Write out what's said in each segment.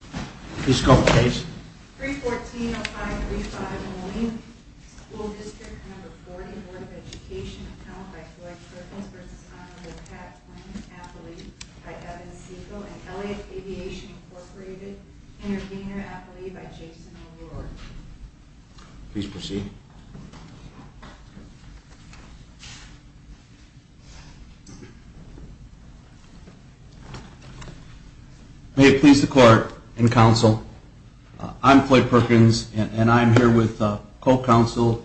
Please go ahead, Paige. 314-0535 Moline School District No. 40 Board of Education Appellant by Floyd Kirkland, v. Honorable Pat Quinn, Affiliate by Evan Segal, and Elliott Aviation, Inc. Intervenor, Affiliate by Jason O'Rourke. Please proceed. May it please the Court and Counsel, I'm Floyd Perkins and I'm here with Co-Counsel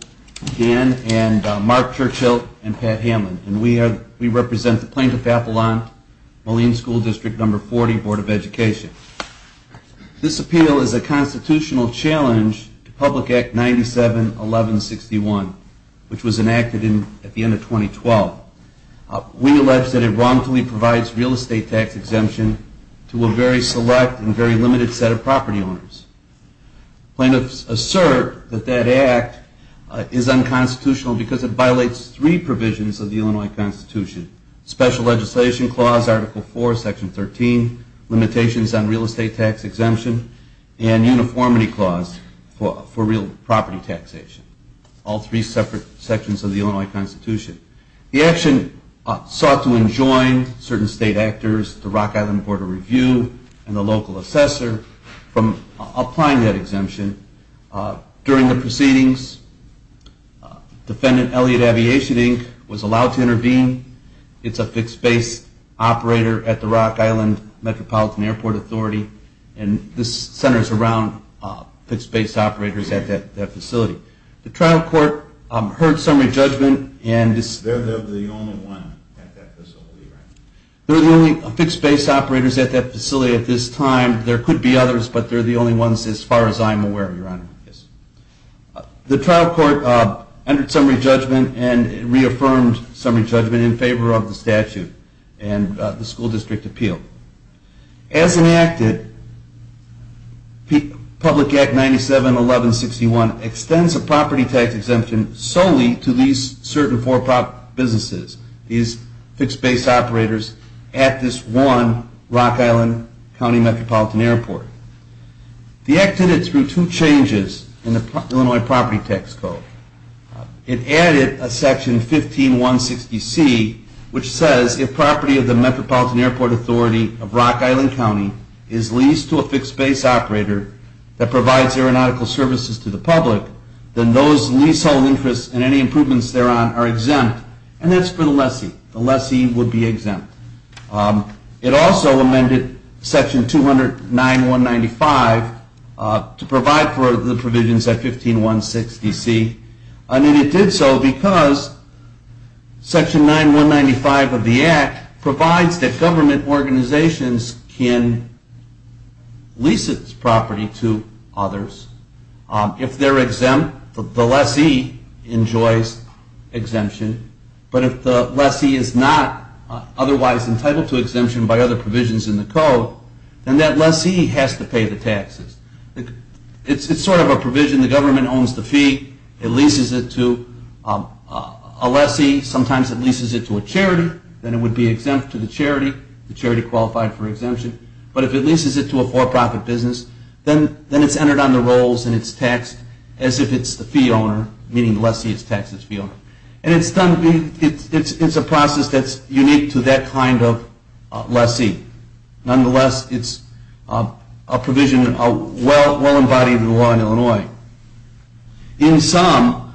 Dan and Mark Churchill and Pat Hamlin. We represent the Plaintiff Appellant, Moline School District No. 40 Board of Education. This appeal is a constitutional challenge to Public Act 97-1161, which was enacted at the end of 2012. We allege that it wrongfully provides real estate tax exemption to a very select and very limited set of property owners. Plaintiffs assert that that act is unconstitutional because it violates three provisions of the Illinois Constitution. Special Legislation Clause, Article 4, Section 13, Limitations on Real Estate Tax Exemption, and Uniformity Clause for Real Property Taxation. All three separate sections of the Illinois Constitution. The action sought to enjoin certain state actors, the Rock Island Board of Review, and the local assessor from applying that exemption. During the proceedings, Defendant Elliot Aviation Inc. was allowed to intervene. It's a fixed base operator at the Rock Island Metropolitan Airport Authority. And this centers around fixed base operators at that facility. The trial court heard summary judgment and... They're the only one at that facility, right? They're the only fixed base operators at that facility at this time. There could be others, but they're the only ones as far as I'm aware, Your Honor. The trial court entered summary judgment and reaffirmed summary judgment in favor of the statute and the school district appeal. As enacted, Public Act 97-1161 extends a property tax exemption solely to these certain four businesses. These fixed base operators at this one Rock Island County Metropolitan Airport. The act did it through two changes in the Illinois Property Tax Code. It added a section 15-160C which says, If property of the Metropolitan Airport Authority of Rock Island County is leased to a fixed base operator that provides aeronautical services to the public, then those leasehold interests and any improvements thereon are exempt. And that's for the lessee. The lessee would be exempt. It also amended section 209-195 to provide for the provisions at 15-160C. And it did so because section 9-195 of the act provides that government organizations can lease its property to others. If they're exempt, the lessee enjoys exemption. But if the lessee is not otherwise entitled to exemption by other provisions in the code, then that lessee has to pay the taxes. It's sort of a provision. The government owns the fee. It leases it to a lessee. Sometimes it leases it to a charity. Then it would be exempt to the charity. The charity qualified for exemption. But if it leases it to a for-profit business, then it's entered on the rolls and it's taxed as if it's the fee owner, meaning the lessee has taxed its fee owner. And it's a process that's unique to that kind of lessee. Nonetheless, it's a provision well embodied in the law in Illinois. In sum,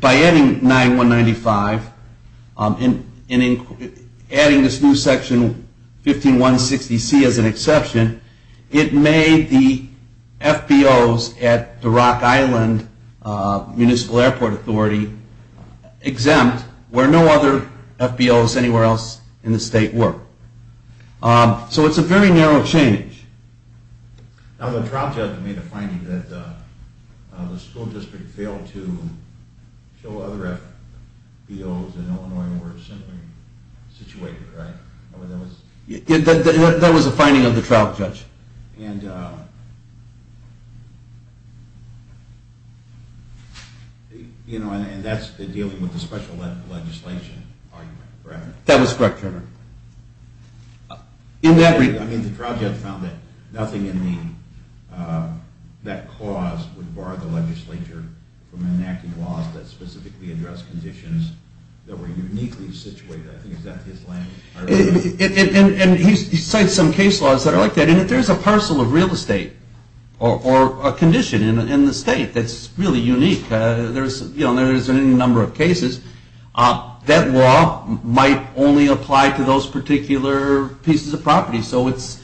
by adding 9-195 and adding this new section 15-160C as an exception, it made the FBOs at the Rock Island Municipal Airport Authority exempt where no other FBOs anywhere else in the state were. So it's a very narrow change. Now the trial judge made a finding that the school district failed to show other FBOs in Illinois were similarly situated, right? That was a finding of the trial judge. And that's dealing with the special legislation argument, correct? That was correct, Chairman. I mean, the trial judge found that nothing in that clause would bar the legislature from enacting laws that specifically address conditions that were uniquely situated. I think is that his language? And he cites some case laws that are like that. And if there's a parcel of real estate or a condition in the state that's really unique, there's a number of cases. That law might only apply to those particular pieces of property. So its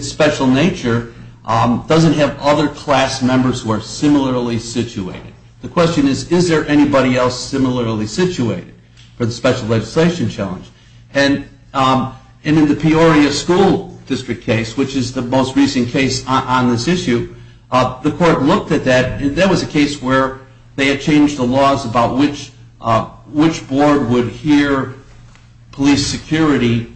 special nature doesn't have other class members who are similarly situated. The question is, is there anybody else similarly situated for the special legislation challenge? And in the Peoria School District case, which is the most recent case on this issue, the court looked at that. And that was a case where they had changed the laws about which board would hear police security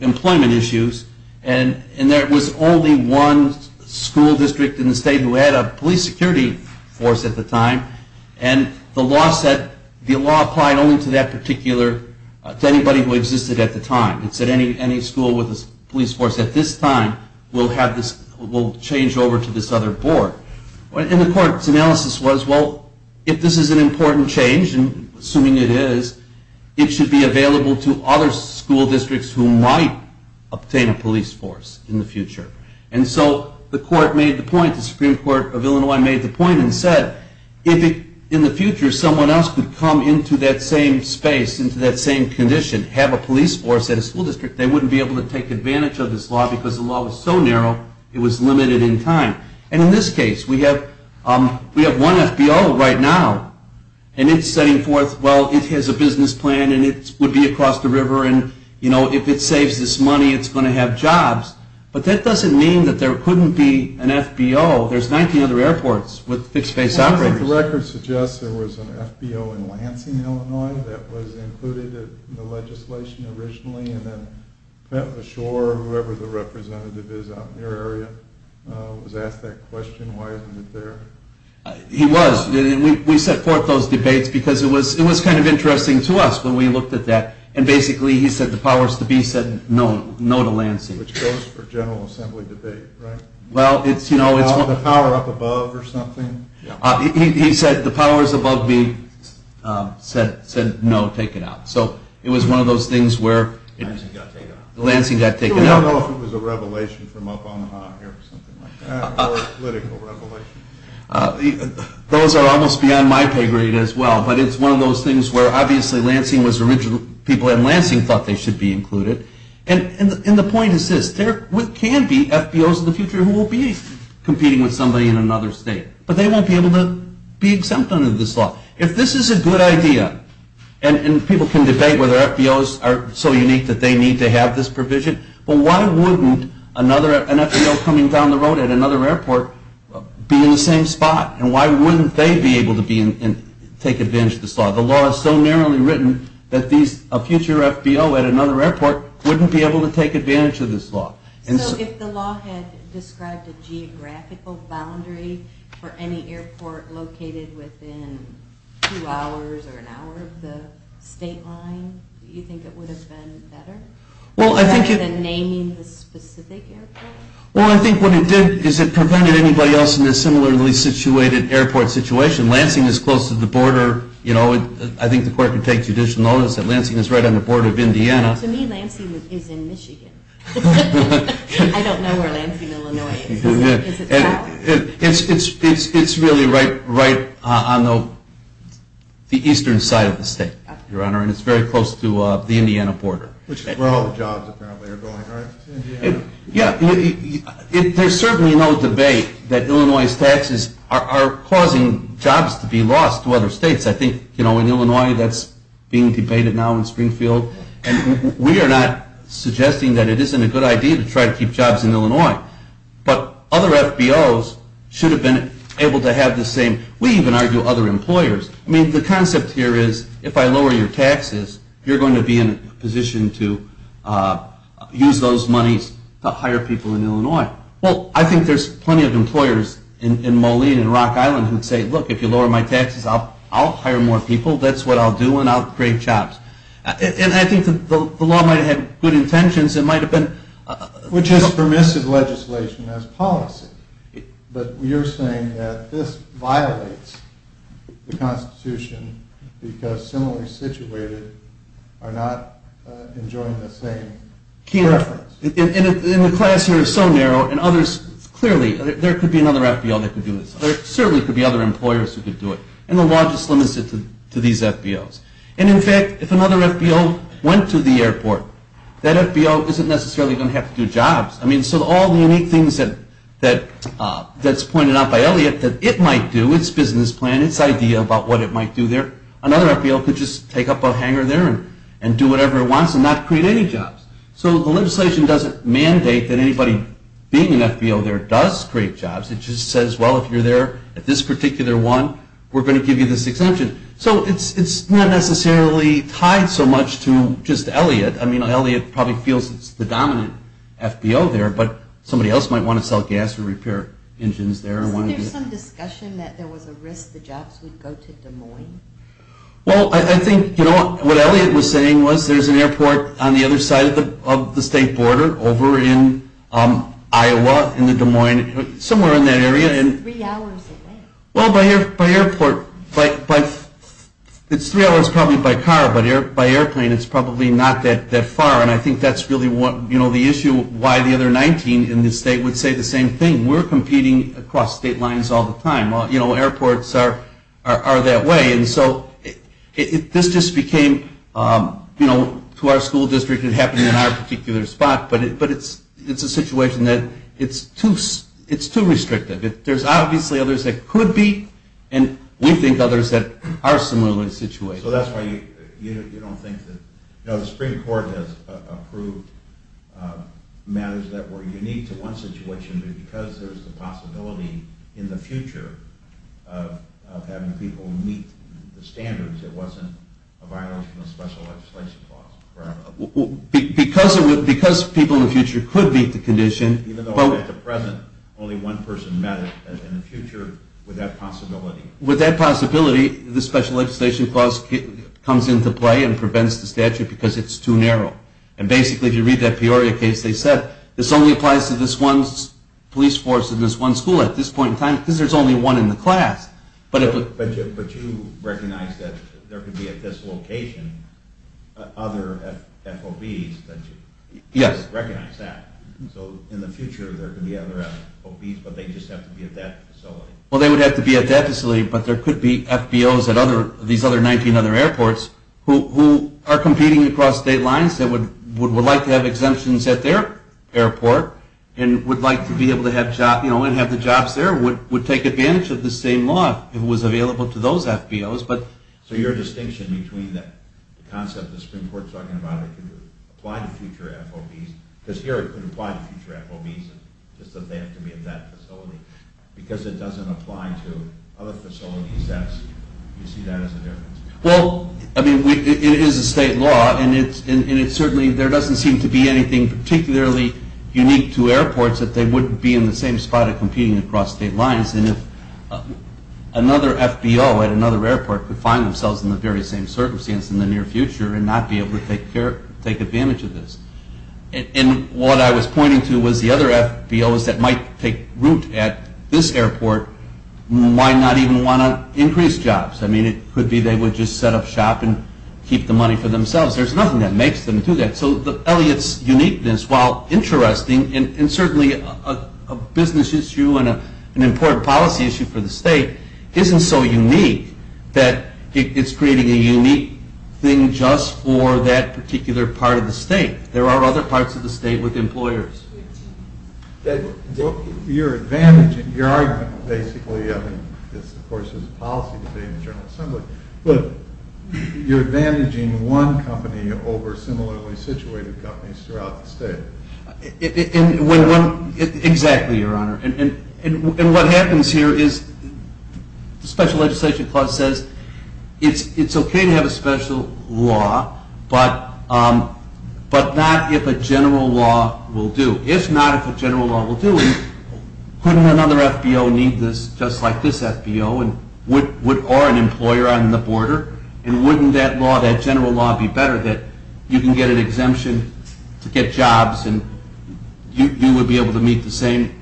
employment issues. And there was only one school district in the state who had a police security force at the time. And the law said the law applied only to that particular, to anybody who existed at the time. It said any school with a police force at this time will change over to this other board. And the court's analysis was, well, if this is an important change, and assuming it is, it should be available to other school districts who might obtain a police force in the future. And so the court made the point, the Supreme Court of Illinois made the point and said, if in the future someone else could come into that same space, into that same condition, have a police force at a school district, they wouldn't be able to take advantage of this law because the law was so narrow it was limited in time. And in this case, we have one FBO right now, and it's setting forth, well, it has a business plan and it would be across the river and, you know, if it saves this money, it's going to have jobs. But that doesn't mean that there couldn't be an FBO. There's 19 other airports with fixed-base operators. The record suggests there was an FBO in Lansing, Illinois, that was included in the legislation originally and then Pat LaSure, whoever the representative is out in your area, was asked that question. Why isn't it there? He was. We set forth those debates because it was kind of interesting to us when we looked at that. And basically he said the powers to be said no to Lansing. Which goes for general assembly debate, right? The power up above or something? He said the powers above me said no, take it out. So it was one of those things where Lansing got taken out. I don't know if it was a revelation from up on the high or something like that or a political revelation. Those are almost beyond my pay grade as well, but it's one of those things where obviously Lansing was original. People in Lansing thought they should be included. And the point is this. There can be FBOs in the future who will be competing with somebody in another state, but they won't be able to be exempt under this law. If this is a good idea, and people can debate whether FBOs are so unique that they need to have this provision, but why wouldn't an FBO coming down the road at another airport be in the same spot? And why wouldn't they be able to take advantage of this law? The law is so narrowly written that a future FBO at another airport wouldn't be able to take advantage of this law. So if the law had described a geographical boundary for any airport located within two hours or an hour of the state line, do you think it would have been better? Rather than naming the specific airport? Well, I think what it did is it prevented anybody else in a similarly situated airport situation. Lansing is close to the border. I think the court could take judicial notice that Lansing is right on the border of Indiana. To me, Lansing is in Michigan. I don't know where Lansing, Illinois is. It's really right on the eastern side of the state, Your Honor, and it's very close to the Indiana border. Which is where all the jobs apparently are going, right? Yeah, there's certainly no debate that Illinois' taxes are causing jobs to be lost to other states. I think, you know, in Illinois that's being debated now in Springfield. And we are not suggesting that it isn't a good idea to try to keep jobs in Illinois. But other FBOs should have been able to have the same. We even argue other employers. I mean, the concept here is if I lower your taxes, you're going to be in a position to use those monies to hire people in Illinois. Well, I think there's plenty of employers in Moline and Rock Island who would say, look, if you lower my taxes, I'll hire more people. That's what I'll do and I'll create jobs. And I think the law might have had good intentions. It might have been. Which is permissive legislation as policy. But you're saying that this violates the Constitution because similarly situated are not enjoying the same preference. And the class here is so narrow. And others, clearly, there could be another FBO that could do this. There certainly could be other employers who could do it. And the law just limits it to these FBOs. And in fact, if another FBO went to the airport, that FBO isn't necessarily going to have to do jobs. I mean, so all the unique things that's pointed out by Elliott that it might do, its business plan, its idea about what it might do there, another FBO could just take up a hanger there and do whatever it wants and not create any jobs. So the legislation doesn't mandate that anybody being an FBO there does create jobs. It just says, well, if you're there at this particular one, we're going to give you this exemption. So it's not necessarily tied so much to just Elliott. I mean, Elliott probably feels it's the dominant FBO there. But somebody else might want to sell gas or repair engines there. So there's some discussion that there was a risk the jobs would go to Des Moines? Well, I think what Elliott was saying was there's an airport on the other side of the state border over in Iowa in the Des Moines, somewhere in that area. It's three hours away. Well, by airport, it's three hours probably by car, but by airplane, it's probably not that far. And I think that's really the issue why the other 19 in the state would say the same thing. We're competing across state lines all the time. You know, airports are that way. And so this just became, you know, to our school district, it happened in our particular spot. But it's a situation that it's too restrictive. There's obviously others that could be, and we think others that are similar situations. So that's why you don't think that, you know, the Supreme Court has approved matters that were unique to one situation, but because there's the possibility in the future of having people meet the standards, it wasn't a violation of special legislation clause. Because people in the future could meet the condition. Even though at the present, only one person met it, but in the future, with that possibility. With that possibility, the special legislation clause comes into play and prevents the statute because it's too narrow. And basically, if you read that Peoria case, they said, this only applies to this one police force in this one school at this point in time because there's only one in the class. But you recognize that there could be at this location other FOBs that recognize that. So in the future, there could be other FOBs, but they just have to be at that facility. Well, they would have to be at that facility, but there could be FBOs at these other 19 other airports who are competing across state lines that would like to have exemptions at their airport and would like to be able to have jobs, you know, and have the jobs there, would take advantage of the same law if it was available to those FBOs. So your distinction between the concept that Supreme Court's talking about, it could apply to future FOBs, because here it could apply to future FOBs, just that they have to be at that facility, because it doesn't apply to other facilities. Do you see that as a difference? Well, I mean, it is a state law, and it's certainly, there doesn't seem to be anything particularly unique to airports that they wouldn't be in the same spot of competing across state lines. And if another FBO at another airport could find themselves in the very same circumstance in the near future and not be able to take advantage of this. And what I was pointing to was the other FBOs that might take root at this airport might not even want to increase jobs. I mean, it could be they would just set up shop and keep the money for themselves. There's nothing that makes them do that. So Elliot's uniqueness, while interesting, and certainly a business issue and an important policy issue for the state, isn't so unique that it's creating a unique thing just for that particular part of the state. There are other parts of the state with employers. Your advantage and your argument, basically, I mean, this, of course, is a policy debate in the General Assembly, but you're advantaging one company over similarly situated companies throughout the state. Exactly, Your Honor. And what happens here is the Special Legislation Clause says it's okay to have a special law, but not if a general law will do. If not, if a general law will do, couldn't another FBO need this just like this FBO or an employer on the border? And wouldn't that law, that general law, be better that you can get an exemption to get jobs and you would be able to meet the same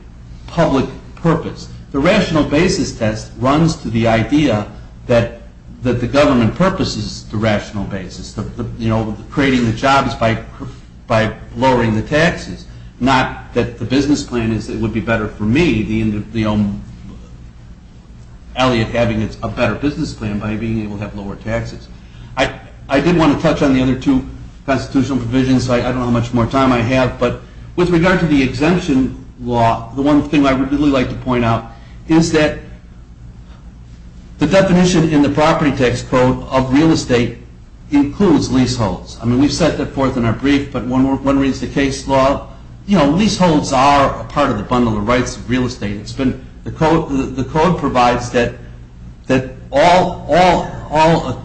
public purpose? The rational basis test runs to the idea that the government purposes the rational basis, you know, creating the jobs by lowering the taxes, not that the business plan would be better for me, the end of Elliot having a better business plan by being able to have lower taxes. I did want to touch on the other two constitutional provisions, so I don't know how much more time I have, but with regard to the exemption law, the one thing I would really like to point out is that the definition in the property tax code of real estate includes leaseholds. I mean, we've set that forth in our brief, but one reads the case law. You know, leaseholds are a part of the bundle of rights of real estate. The code provides that all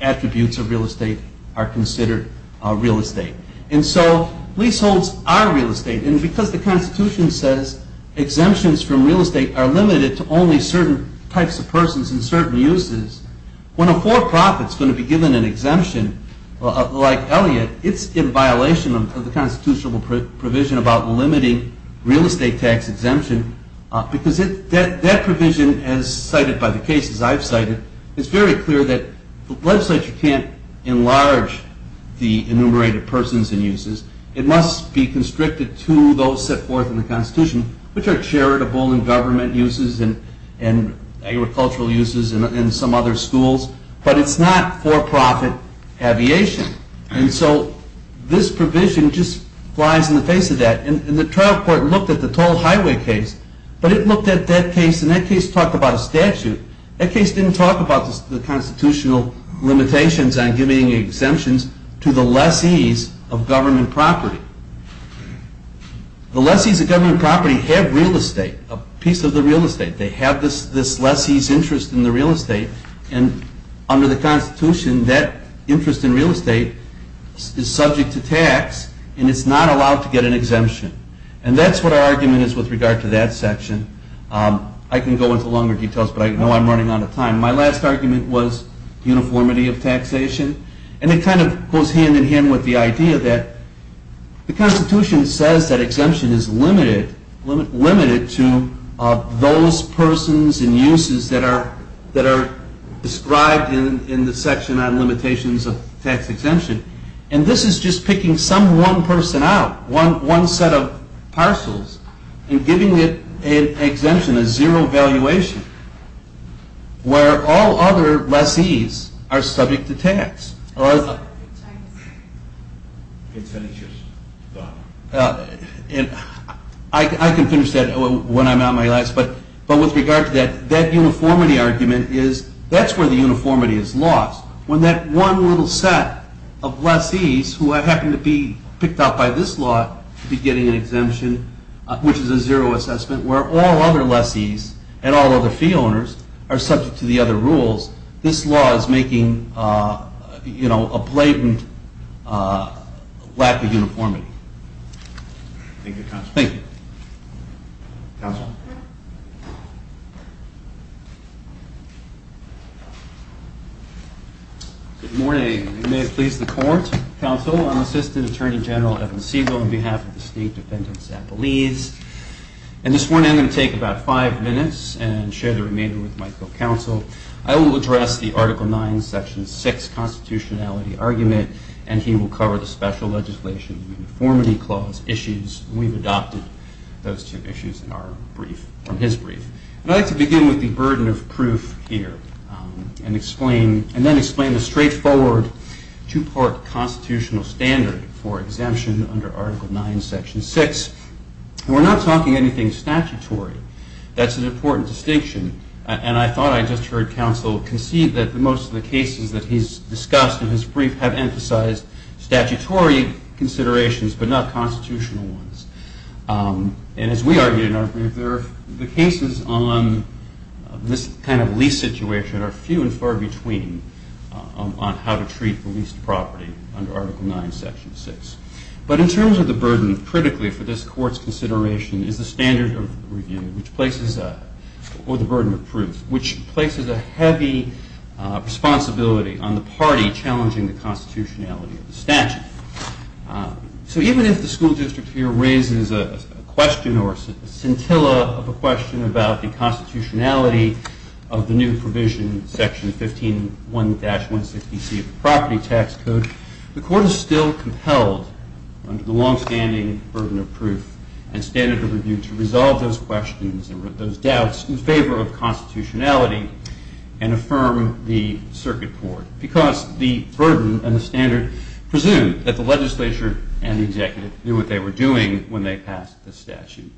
attributes of real estate are considered real estate. And so leaseholds are real estate, and because the Constitution says exemptions from real estate are limited to only certain types of persons and certain uses, when a for-profit is going to be given an exemption like Elliot, it's in violation of the constitutional provision about limiting real estate tax exemption because that provision, as cited by the cases I've cited, is very clear that the legislature can't enlarge the enumerated persons and uses. It must be constricted to those set forth in the Constitution, which are charitable in government uses and agricultural uses and some other schools, but it's not for-profit aviation. And so this provision just flies in the face of that. And the trial court looked at the toll highway case, but it looked at that case, and that case talked about a statute. That case didn't talk about the constitutional limitations on giving exemptions to the lessees of government property. The lessees of government property have real estate, a piece of the real estate. They have this lessee's interest in the real estate, and under the Constitution that interest in real estate is subject to tax and it's not allowed to get an exemption. And that's what our argument is with regard to that section. I can go into longer details, but I know I'm running out of time. My last argument was uniformity of taxation, and it kind of goes hand in hand with the idea that the Constitution says that exemption is limited to those persons and uses that are described in the section on limitations of tax exemption. And this is just picking some one person out, one set of parcels, and giving it an exemption, a zero valuation, where all other lessees are subject to tax. I can finish that when I'm out of my last, but with regard to that, that uniformity argument is, that's where the uniformity is lost. When that one little set of lessees who happen to be picked out by this law to be getting an exemption, which is a zero assessment, where all other lessees and all other fee owners are subject to the other rules, this law is making a blatant lack of uniformity. Good morning. May it please the court. Counsel, I'm Assistant Attorney General Evan Segal on behalf of the State Defendant's Appellees. And this morning I'm going to take about five minutes and share the remainder with my co-counsel. I will address the Article 9, Section 6 constitutionality argument, and he will cover the special legislation uniformity clause issues. We've adopted those two issues from his brief. And I'd like to begin with the burden of proof here and then explain the straightforward two-part constitutional standard for exemption under Article 9, Section 6. We're not talking anything statutory. That's an important distinction. And I thought I just heard counsel concede that most of the cases that he's discussed in his brief have emphasized statutory considerations but not constitutional ones. And as we argued in our brief, the cases on this kind of lease situation are few and far between on how to treat the leased property under Article 9, Section 6. But in terms of the burden, critically for this Court's consideration is the standard of review or the burden of proof, which places a heavy responsibility on the party challenging the constitutionality of the statute. So even if the school district here raises a question or a scintilla of a question about the constitutionality of the new provision, Section 15.1-160C of the Property Tax Code, the Court is still compelled under the long-standing burden of proof and standard of review to resolve those questions and those doubts in favor of constitutionality and affirm the Circuit Court because the burden and the standard presume that the legislature and the executive knew what they were doing when they passed the statute.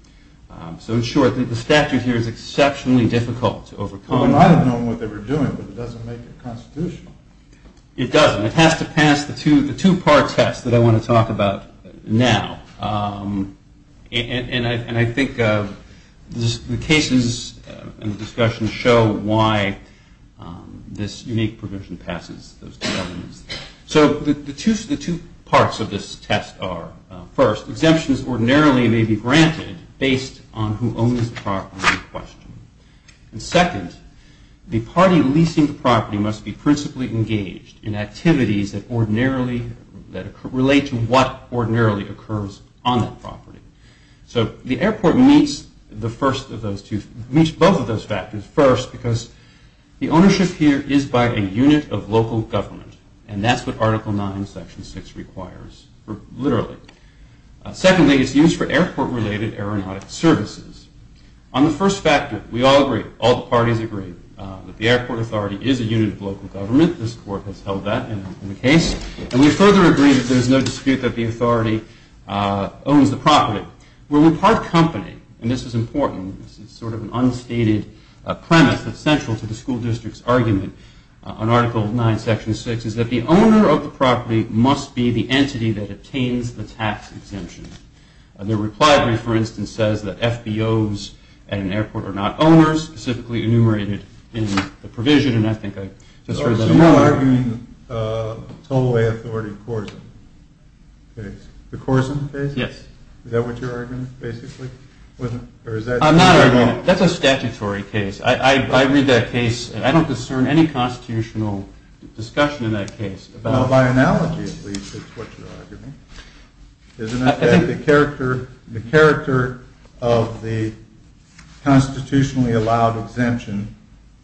So in short, the statute here is exceptionally difficult to overcome. Well, they might have known what they were doing, but it doesn't make it constitutional. It doesn't. It has to pass the two-part test that I want to talk about now. And I think the cases in the discussion show why this unique provision passes those two elements. So the two parts of this test are, first, exemptions ordinarily may be granted based on who owns the property in question. And second, the party leasing the property must be principally engaged in activities that relate to what ordinarily occurs on that property. So the airport meets both of those factors. First, because the ownership here is by a unit of local government, and that's what Article 9, Section 6 requires, literally. Secondly, it's used for airport-related aeronautic services. On the first factor, we all agree, all the parties agree, that the airport authority is a unit of local government. This Court has held that in the case. And we further agree that there's no dispute that the authority owns the property. Where we part company, and this is important, this is sort of an unstated premise that's central to the school district's argument on Article 9, Section 6, is that the owner of the property must be the entity that obtains the tax exemption. And the reply brief, for instance, says that FBOs at an airport are not owners, specifically enumerated in the provision, and I think I just read that wrong. So you're arguing the Tollway Authority Corson case? The Corson case? Yes. Is that what you're arguing, basically? I'm not arguing it. That's a statutory case. I read that case, and I don't discern any constitutional discussion in that case. Well, by analogy, at least, it's what you're arguing. I think the character of the constitutionally allowed exemption,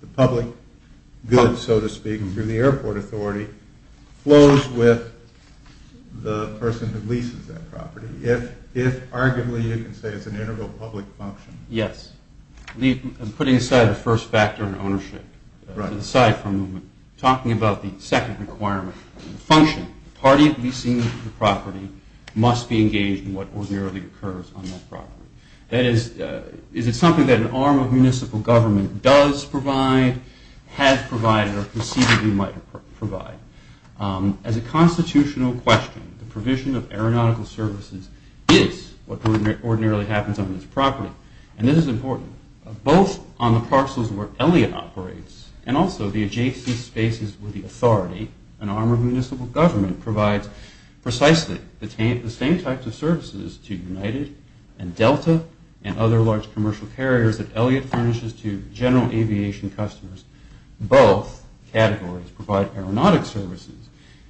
the public good, so to speak, through the airport authority, flows with the person who leases that property. If, arguably, you can say it's an integral public function. Yes. Putting aside the first factor in ownership, aside from talking about the second requirement, the function, the party leasing the property, must be engaged in what ordinarily occurs on that property. That is, is it something that an arm of municipal government does provide, has provided, or conceivably might provide? As a constitutional question, the provision of aeronautical services is what ordinarily happens on this property, and this is important, both on the parcels where Elliot operates and also the adjacent spaces where the authority, an arm of municipal government, provides precisely the same types of services to United and Delta and other large commercial carriers that Elliot furnishes to general aviation customers. Both categories provide aeronautic services.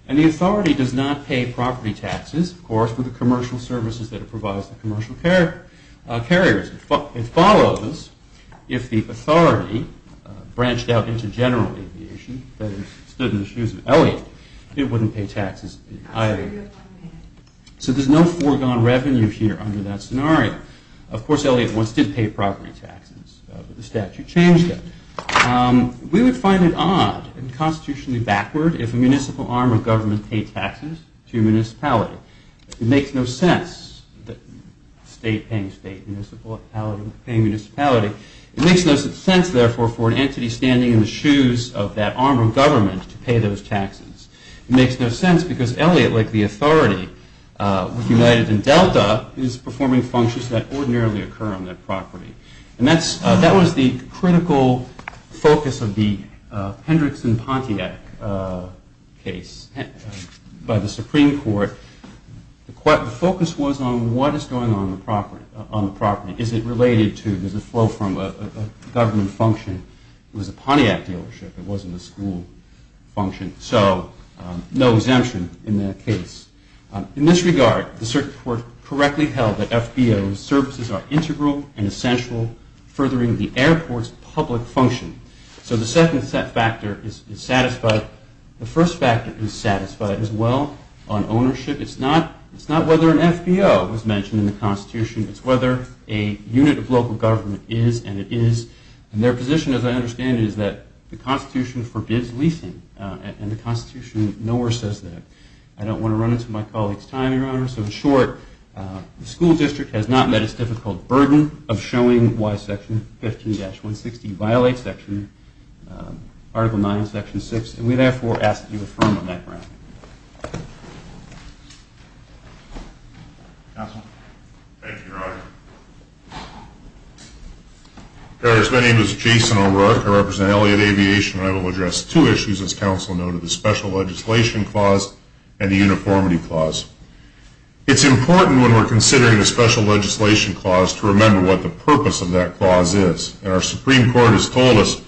And the authority does not pay property taxes, of course, for the commercial services that it provides to commercial carriers. It follows if the authority branched out into general aviation, that is, stood in the shoes of Elliot, it wouldn't pay taxes either. So there's no foregone revenue here under that scenario. Of course, Elliot once did pay property taxes, but the statute changed it. We would find it odd and constitutionally backward if a municipal arm of government paid taxes to a municipality. It makes no sense that a state paying a municipality. It makes no sense, therefore, for an entity standing in the shoes of that arm of government to pay those taxes. It makes no sense because Elliot, like the authority, with United and Delta, is performing functions that ordinarily occur on that property. And that was the critical focus of the Hendrickson-Pontiac case by the Supreme Court. The focus was on what is going on the property. Is it related to the flow from a government function? It was a Pontiac dealership. It wasn't a school function. So no exemption in that case. In this regard, the Supreme Court correctly held that FBO's services are integral and essential furthering the airport's public function. So the second factor is satisfied. The first factor is satisfied as well on ownership. It's not whether an FBO was mentioned in the Constitution. It's whether a unit of local government is, and it is. And their position, as I understand it, is that the Constitution forbids leasing, and the Constitution nowhere says that. I don't want to run into my colleague's time, Your Honor, so in short, the school district has not met its difficult burden of showing why Section 15-160 violates Article 9 of Section 6, and we therefore ask that you affirm on that ground. Counsel. Thank you, Your Honor. Your Honors, my name is Jason O'Rourke. I represent Elliott Aviation, and I will address two issues, as counsel noted, the Special Legislation Clause and the Uniformity Clause. It's important when we're considering the Special Legislation Clause to remember what the purpose of that clause is, and our Supreme Court has told us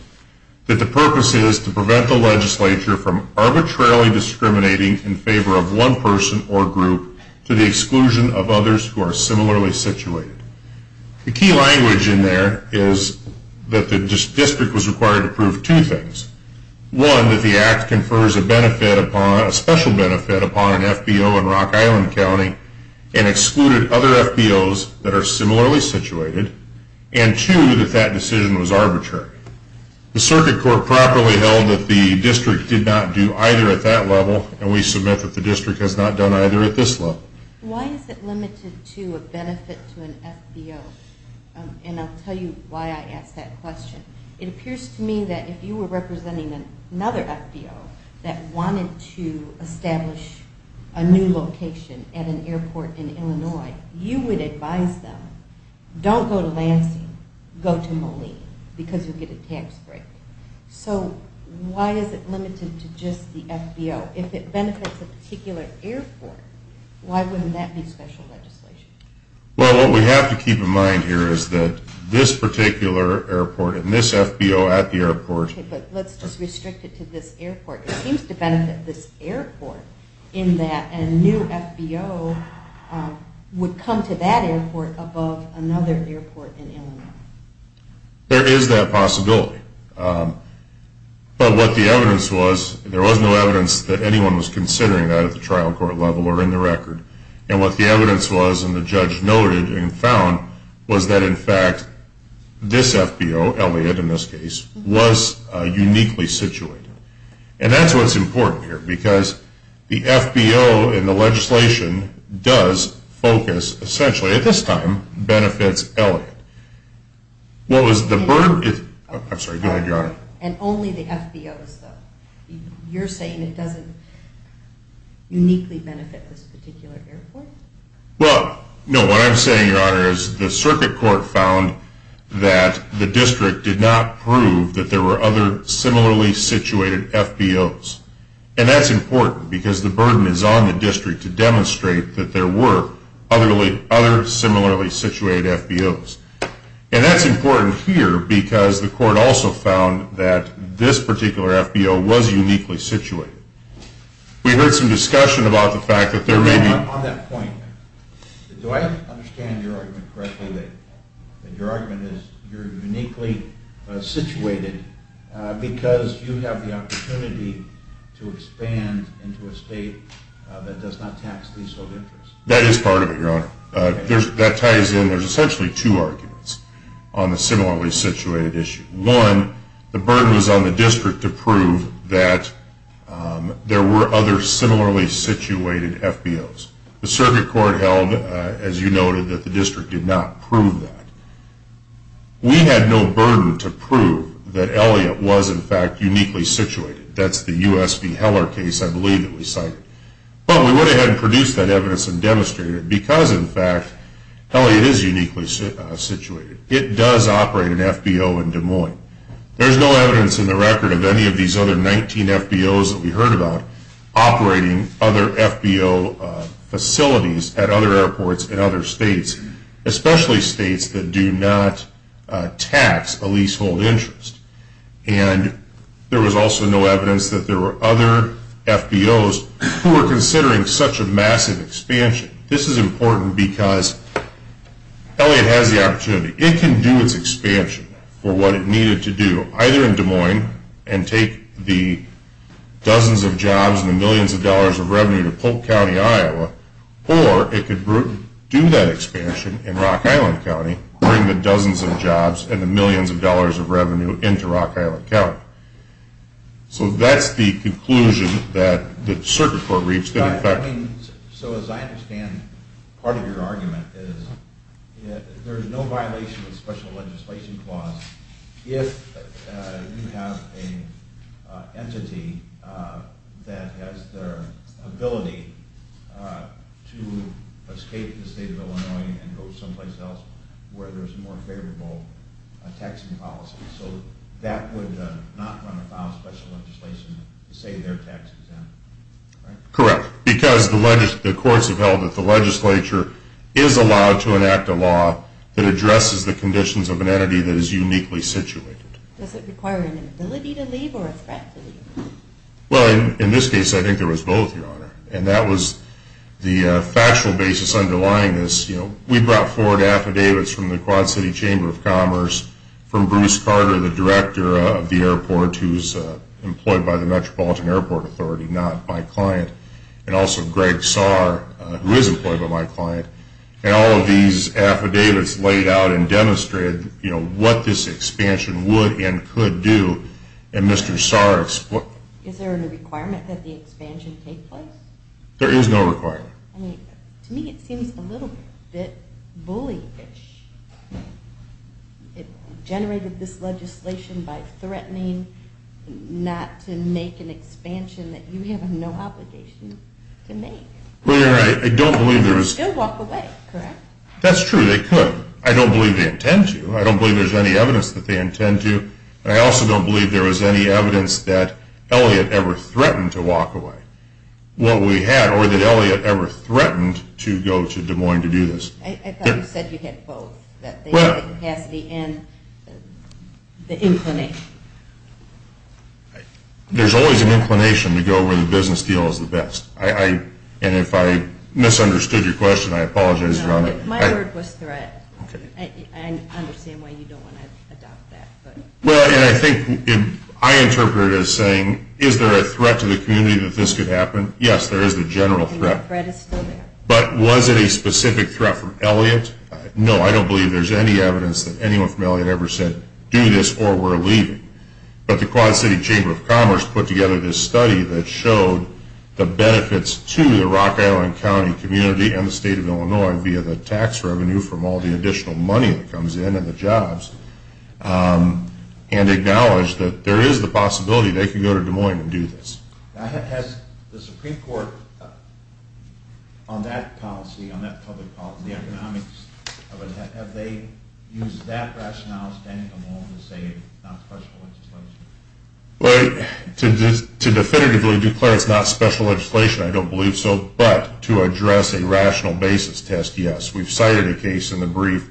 that the purpose is to prevent the legislature from arbitrarily discriminating in favor of one person or group to the exclusion of others who are similarly situated. The key language in there is that the district was required to prove two things, one, that the Act confers a benefit upon, a special benefit upon an FBO in Rock Island County and excluded other FBOs that are similarly situated, and two, that that decision was arbitrary. The Circuit Court properly held that the district did not do either at that level, and we submit that the district has not done either at this level. Why is it limited to a benefit to an FBO? And I'll tell you why I ask that question. It appears to me that if you were representing another FBO that wanted to establish a new location at an airport in Illinois, you would advise them, don't go to Lansing, go to Moline, because you'll get a tax break. So why is it limited to just the FBO? If it benefits a particular airport, why wouldn't that be special legislation? Well, what we have to keep in mind here is that this particular airport and this FBO at the airport... Okay, but let's just restrict it to this airport. It seems to benefit this airport in that a new FBO would come to that airport above another airport in Illinois. There is that possibility. But what the evidence was, there was no evidence that anyone was considering that at the trial court level or in the record. And what the evidence was, and the judge noted and found, was that in fact this FBO, Elliott in this case, was uniquely situated. And that's what's important here, because the FBO in the legislation does focus essentially, at this time, benefits Elliott. What was the burden... I'm sorry, go ahead, Your Honor. And only the FBOs, though. You're saying it doesn't uniquely benefit this particular airport? Well, no, what I'm saying, Your Honor, is the circuit court found that the district did not prove that there were other similarly situated FBOs. And that's important, because the burden is on the district to demonstrate that there were other similarly situated FBOs. And that's important here, because the court also found that this particular FBO was uniquely situated. We heard some discussion about the fact that there may be... On that point, do I understand your argument correctly, to expand into a state that does not tax leasehold interests? That is part of it, Your Honor. That ties in. There's essentially two arguments on the similarly situated issue. One, the burden was on the district to prove that there were other similarly situated FBOs. The circuit court held, as you noted, that the district did not prove that. We had no burden to prove that Elliott was, in fact, uniquely situated. That's the U.S. v. Heller case, I believe, that we cited. But we went ahead and produced that evidence and demonstrated it, because, in fact, Elliott is uniquely situated. It does operate an FBO in Des Moines. There's no evidence in the record of any of these other 19 FBOs that we heard about operating other FBO facilities at other airports in other states, especially states that do not tax a leasehold interest. And there was also no evidence that there were other FBOs who were considering such a massive expansion. This is important because Elliott has the opportunity. It can do its expansion for what it needed to do, either in Des Moines and take the dozens of jobs and the millions of dollars of revenue to Polk County, Iowa, or it could do that expansion in Rock Island County, bring the dozens of jobs and the millions of dollars of revenue into Rock Island County. So that's the conclusion that the circuit court reached. So as I understand part of your argument is there's no violation of special legislation clause if you have an entity that has the ability to escape the state of Illinois and go someplace else where there's more favorable taxing policies. So that would not run afoul of special legislation to say their tax is in, right? Correct, because the courts have held that the legislature is allowed to enact a law that addresses the conditions of an entity that is uniquely situated. Does it require an ability to leave or a threat to leave? Well, in this case, I think there was both, Your Honor. And that was the factual basis underlying this. We brought forward affidavits from the Quad City Chamber of Commerce, from Bruce Carter, the director of the airport, who's employed by the Metropolitan Airport Authority, not my client, and also Greg Saar, who is employed by my client. And all of these affidavits laid out and demonstrated, you know, what this expansion would and could do. And Mr. Saar explained. Is there a requirement that the expansion take place? There is no requirement. I mean, to me it seems a little bit bullyish. It generated this legislation by threatening not to make an expansion that you have no obligation to make. Well, you're right. I don't believe there is. They'll walk away, correct? That's true. They could. I don't believe they intend to. I don't believe there's any evidence that they intend to. I also don't believe there was any evidence that Elliot ever threatened to walk away. What we had, or that Elliot ever threatened to go to Des Moines to do this. I thought you said you had both, that the capacity and the inclination. There's always an inclination to go where the business deal is the best. And if I misunderstood your question, I apologize. My word was threat. I understand why you don't want to adopt that. Well, and I think I interpreted it as saying, is there a threat to the community that this could happen? Yes, there is a general threat. And the threat is still there. But was it a specific threat from Elliot? No, I don't believe there's any evidence that anyone from Elliot ever said, do this or we're leaving. But the Quad City Chamber of Commerce put together this study that showed the benefits to the Rock Island County community and the state of Illinois via the tax revenue from all the additional money that comes in and the jobs, and acknowledged that there is the possibility they could go to Des Moines and do this. Has the Supreme Court, on that policy, on that public policy, the economics of it, have they used that rationale, standing alone, to say it's not questionable? Well, to definitively declare it's not special legislation, I don't believe so. But to address a rational basis test, yes. We've cited a case in the brief.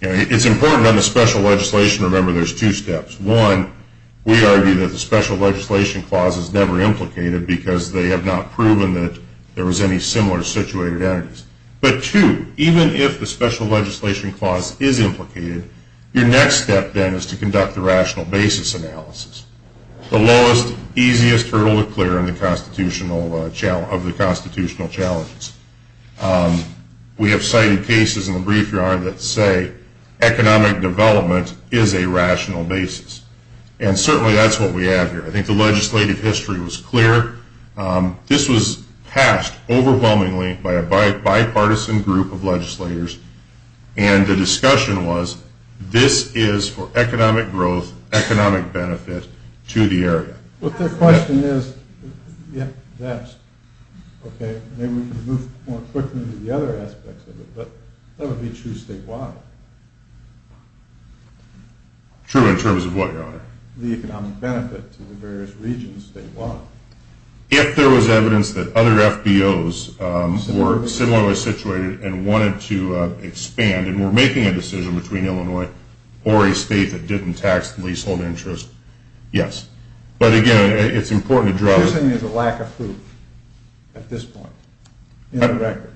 It's important under special legislation, remember, there's two steps. One, we argue that the special legislation clause is never implicated because they have not proven that there was any similar situated entities. But two, even if the special legislation clause is implicated, your next step, then, is to conduct the rational basis analysis, the lowest, easiest hurdle to clear of the constitutional challenges. We have cited cases in the brief yard that say economic development is a rational basis. And certainly that's what we have here. I think the legislative history was clear. This was passed overwhelmingly by a bipartisan group of legislators, and the discussion was this is for economic growth, economic benefit to the area. But the question is, yes, okay, maybe we can move more quickly to the other aspects of it, but that would be true statewide. True in terms of what, Your Honor? The economic benefit to the various regions statewide. If there was evidence that other FBOs were similarly situated and wanted to expand and were making a decision between Illinois or a state that didn't tax the leasehold interest, yes. But, again, it's important to draw. You're saying there's a lack of proof at this point in the record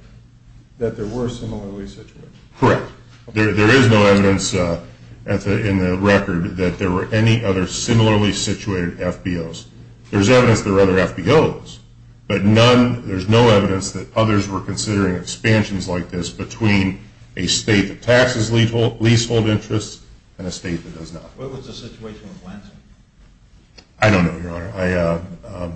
that there were similarly situated? Correct. There is no evidence in the record that there were any other similarly situated FBOs. There's evidence there were other FBOs, but none, there's no evidence that others were considering expansions like this between a state that taxes leasehold interests and a state that does not. What was the situation with Lansing? I don't know, Your Honor.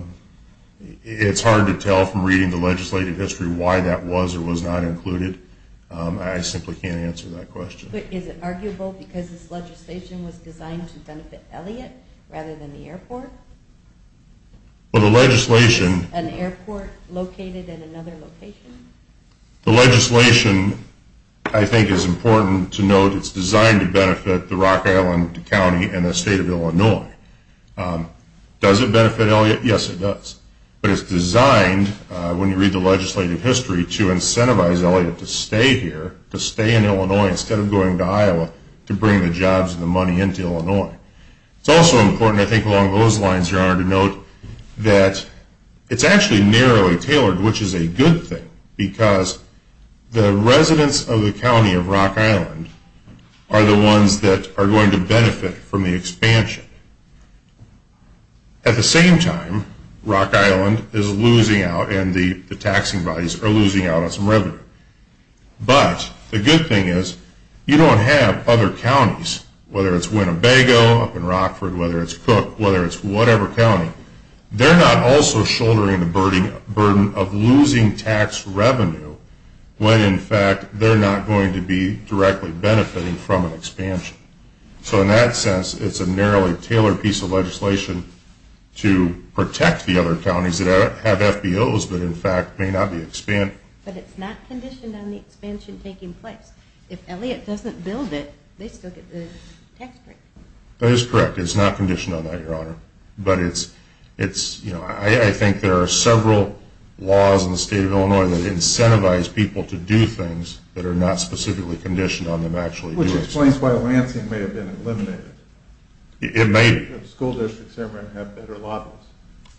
It's hard to tell from reading the legislative history why that was or was not included. I simply can't answer that question. Is it arguable because this legislation was designed to benefit Elliott rather than the airport? An airport located in another location? The legislation, I think, is important to note. It's designed to benefit the Rock Island County and the state of Illinois. Does it benefit Elliott? Yes, it does. But it's designed, when you read the legislative history, to incentivize Elliott to stay here, to stay in Illinois instead of going to Iowa, to bring the jobs and the money into Illinois. It's also important, I think, along those lines, Your Honor, to note that it's actually narrowly tailored, which is a good thing, because the residents of the county of Rock Island are the ones that are going to benefit from the expansion. At the same time, Rock Island is losing out and the taxing bodies are losing out on some revenue. But the good thing is you don't have other counties, whether it's Winnebago, up in Rockford, whether it's Cook, whether it's whatever county, they're not also shouldering the burden of losing tax revenue when, in fact, they're not going to be directly benefiting from an expansion. So in that sense, it's a narrowly tailored piece of legislation to protect the other counties that have FBOs but, in fact, may not be expanding. But it's not conditioned on the expansion taking place. If Elliott doesn't build it, they still get the tax break. That is correct. It's not conditioned on that, Your Honor. But I think there are several laws in the state of Illinois that incentivize people to do things that are not specifically conditioned on them actually doing something. That explains why Lansing may have been eliminated. It may be. The school districts there may have better laws.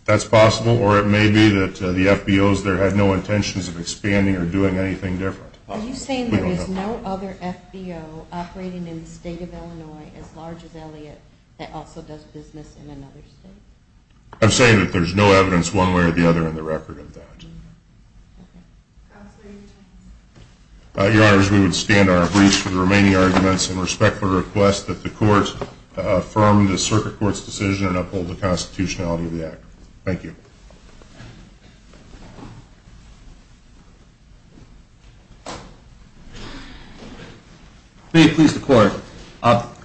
That's possible. Or it may be that the FBOs there had no intentions of expanding or doing anything different. Are you saying there is no other FBO operating in the state of Illinois as large as Elliott that also does business in another state? I'm saying that there's no evidence one way or the other in the record of that. Okay. Congratulations. Your Honors, we would stand on our briefs for the remaining arguments and respectfully request that the Court affirm the Circuit Court's decision and uphold the constitutionality of the act. Thank you. May it please the Court,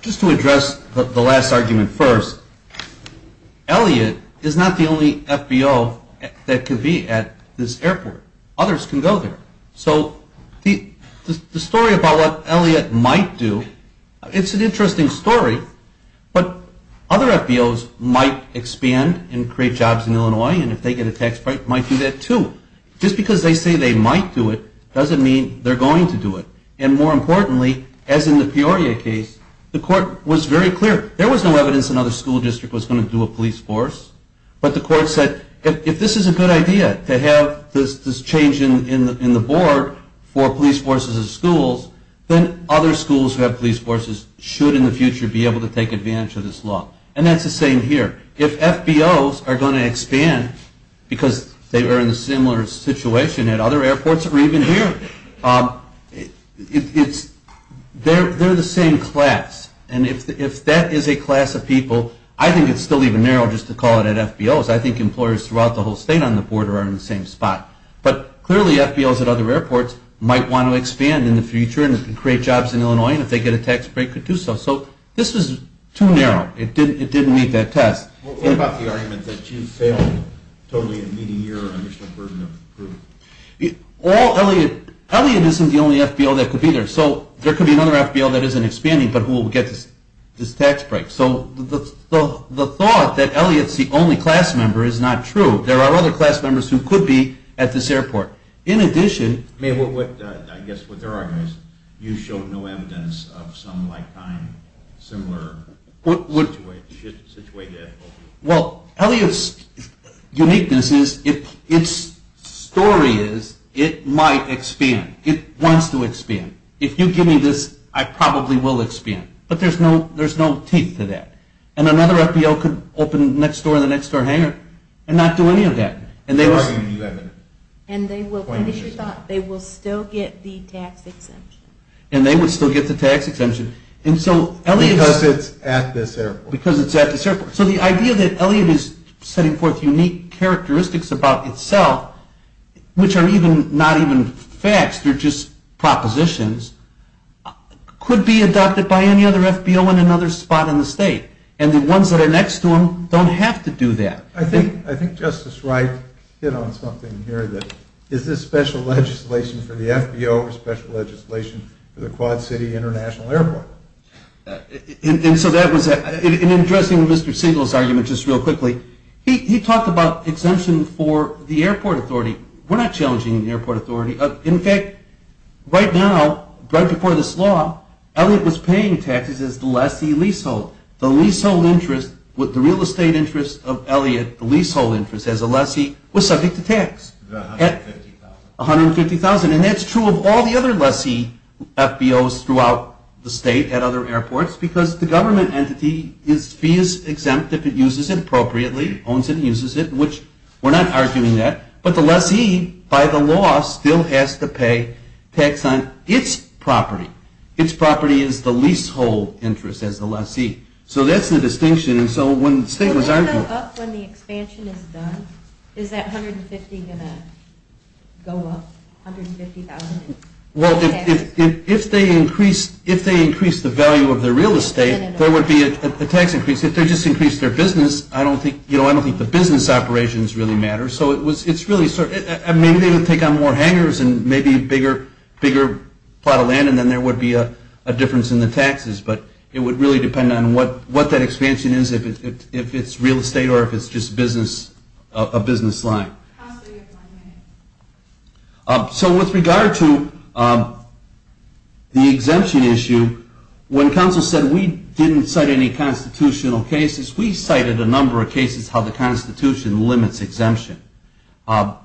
just to address the last argument first, Elliott is not the only FBO that could be at this airport. Others can go there. So the story about what Elliott might do, it's an interesting story, but other FBOs might expand and create jobs in Illinois, and if they get a tax break, might do that too. Just because they say they might do it doesn't mean they're going to do it. And more importantly, as in the Peoria case, the Court was very clear. There was no evidence another school district was going to do a police force, but the Court said if this is a good idea, to have this change in the board for police forces in schools, then other schools who have police forces should in the future be able to take advantage of this law. And that's the same here. If FBOs are going to expand because they were in a similar situation at other airports or even here, they're the same class. And if that is a class of people, I think it's still even narrow just to call it at FBOs. I think employers throughout the whole state on the border are in the same spot. But clearly FBOs at other airports might want to expand in the future and create jobs in Illinois, and if they get a tax break, could do so. So this is too narrow. It didn't meet that test. What about the argument that you failed totally in meeting your initial burden of approval? Elliott isn't the only FBO that could be there. So there could be another FBO that isn't expanding but who will get this tax break. So the thought that Elliott's the only class member is not true. There are other class members who could be at this airport. In addition... I guess what there are is you showed no evidence of some like-kind, similar situation. Well, Elliott's uniqueness is its story is it might expand. It wants to expand. If you give me this, I probably will expand. But there's no teeth to that. And another FBO could open next door in the next door hangar and not do any of that. And they will still get the tax exemption. And they would still get the tax exemption. Because it's at this airport. Because it's at this airport. So the idea that Elliott is setting forth unique characteristics about itself, which are not even facts, they're just propositions, could be adopted by any other FBO in another spot in the state. And the ones that are next to him don't have to do that. I think Justice Wright hit on something here that is this special legislation for the FBO or special legislation for the Quad City International Airport? And so that was that. In addressing Mr. Siegel's argument just real quickly, he talked about exemption for the airport authority. We're not challenging the airport authority. In fact, right now, right before this law, Elliott was paying taxes as the lessee leasehold. The leasehold interest with the real estate interest of Elliott, the leasehold interest as a lessee, was subject to tax. $150,000. $150,000. And that's true of all the other lessee FBOs throughout the state at other airports because the government entity's fee is exempt if it uses it appropriately, owns it and uses it, which we're not arguing that. But the lessee, by the law, still has to pay tax on its property. Its property is the leasehold interest as the lessee. So that's the distinction. And so when the state was arguing… Will that go up when the expansion is done? Is that $150,000 going to go up? Well, if they increase the value of their real estate, there would be a tax increase. If they just increase their business, I don't think the business operations really matter. So it's really… Maybe they would take on more hangers and maybe a bigger plot of land and then there would be a difference in the taxes. But it would really depend on what that expansion is, if it's real estate or if it's just a business line. So with regard to the exemption issue, when counsel said we didn't cite any constitutional cases, we cited a number of cases how the Constitution limits exemption. What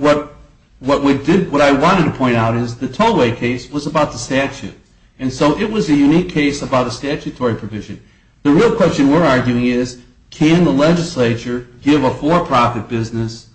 I wanted to point out is the Tollway case was about the statute. And so it was a unique case about a statutory provision. The real question we're arguing is, can the legislature give a for-profit business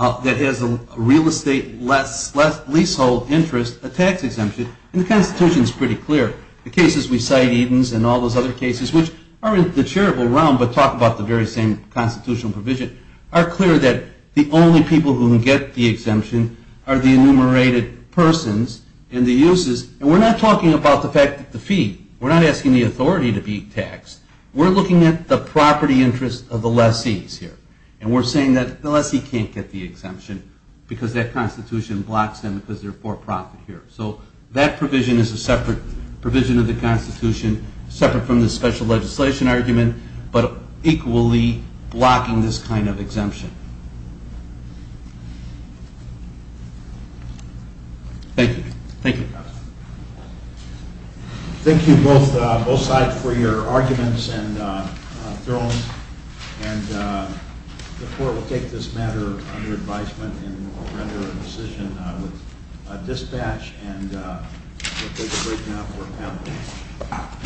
that has a real estate leasehold interest a tax exemption? And the Constitution is pretty clear. The cases we cite, Eden's and all those other cases, which are in the charitable realm but talk about the very same constitutional provision, are clear that the only people who get the exemption are the enumerated persons and the uses. And we're not talking about the fact that the fee. We're not asking the authority to be taxed. We're looking at the property interest of the lessees here. And we're saying that the lessee can't get the exemption because that Constitution blocks them because they're for-profit here. So that provision is a separate provision of the Constitution, separate from the special legislation argument, but equally blocking this kind of exemption. Thank you. Thank you. Thank you both sides for your arguments and thrones. And the court will take this matter under advisement and render a decision with dispatch. And we'll take a break now for a panel.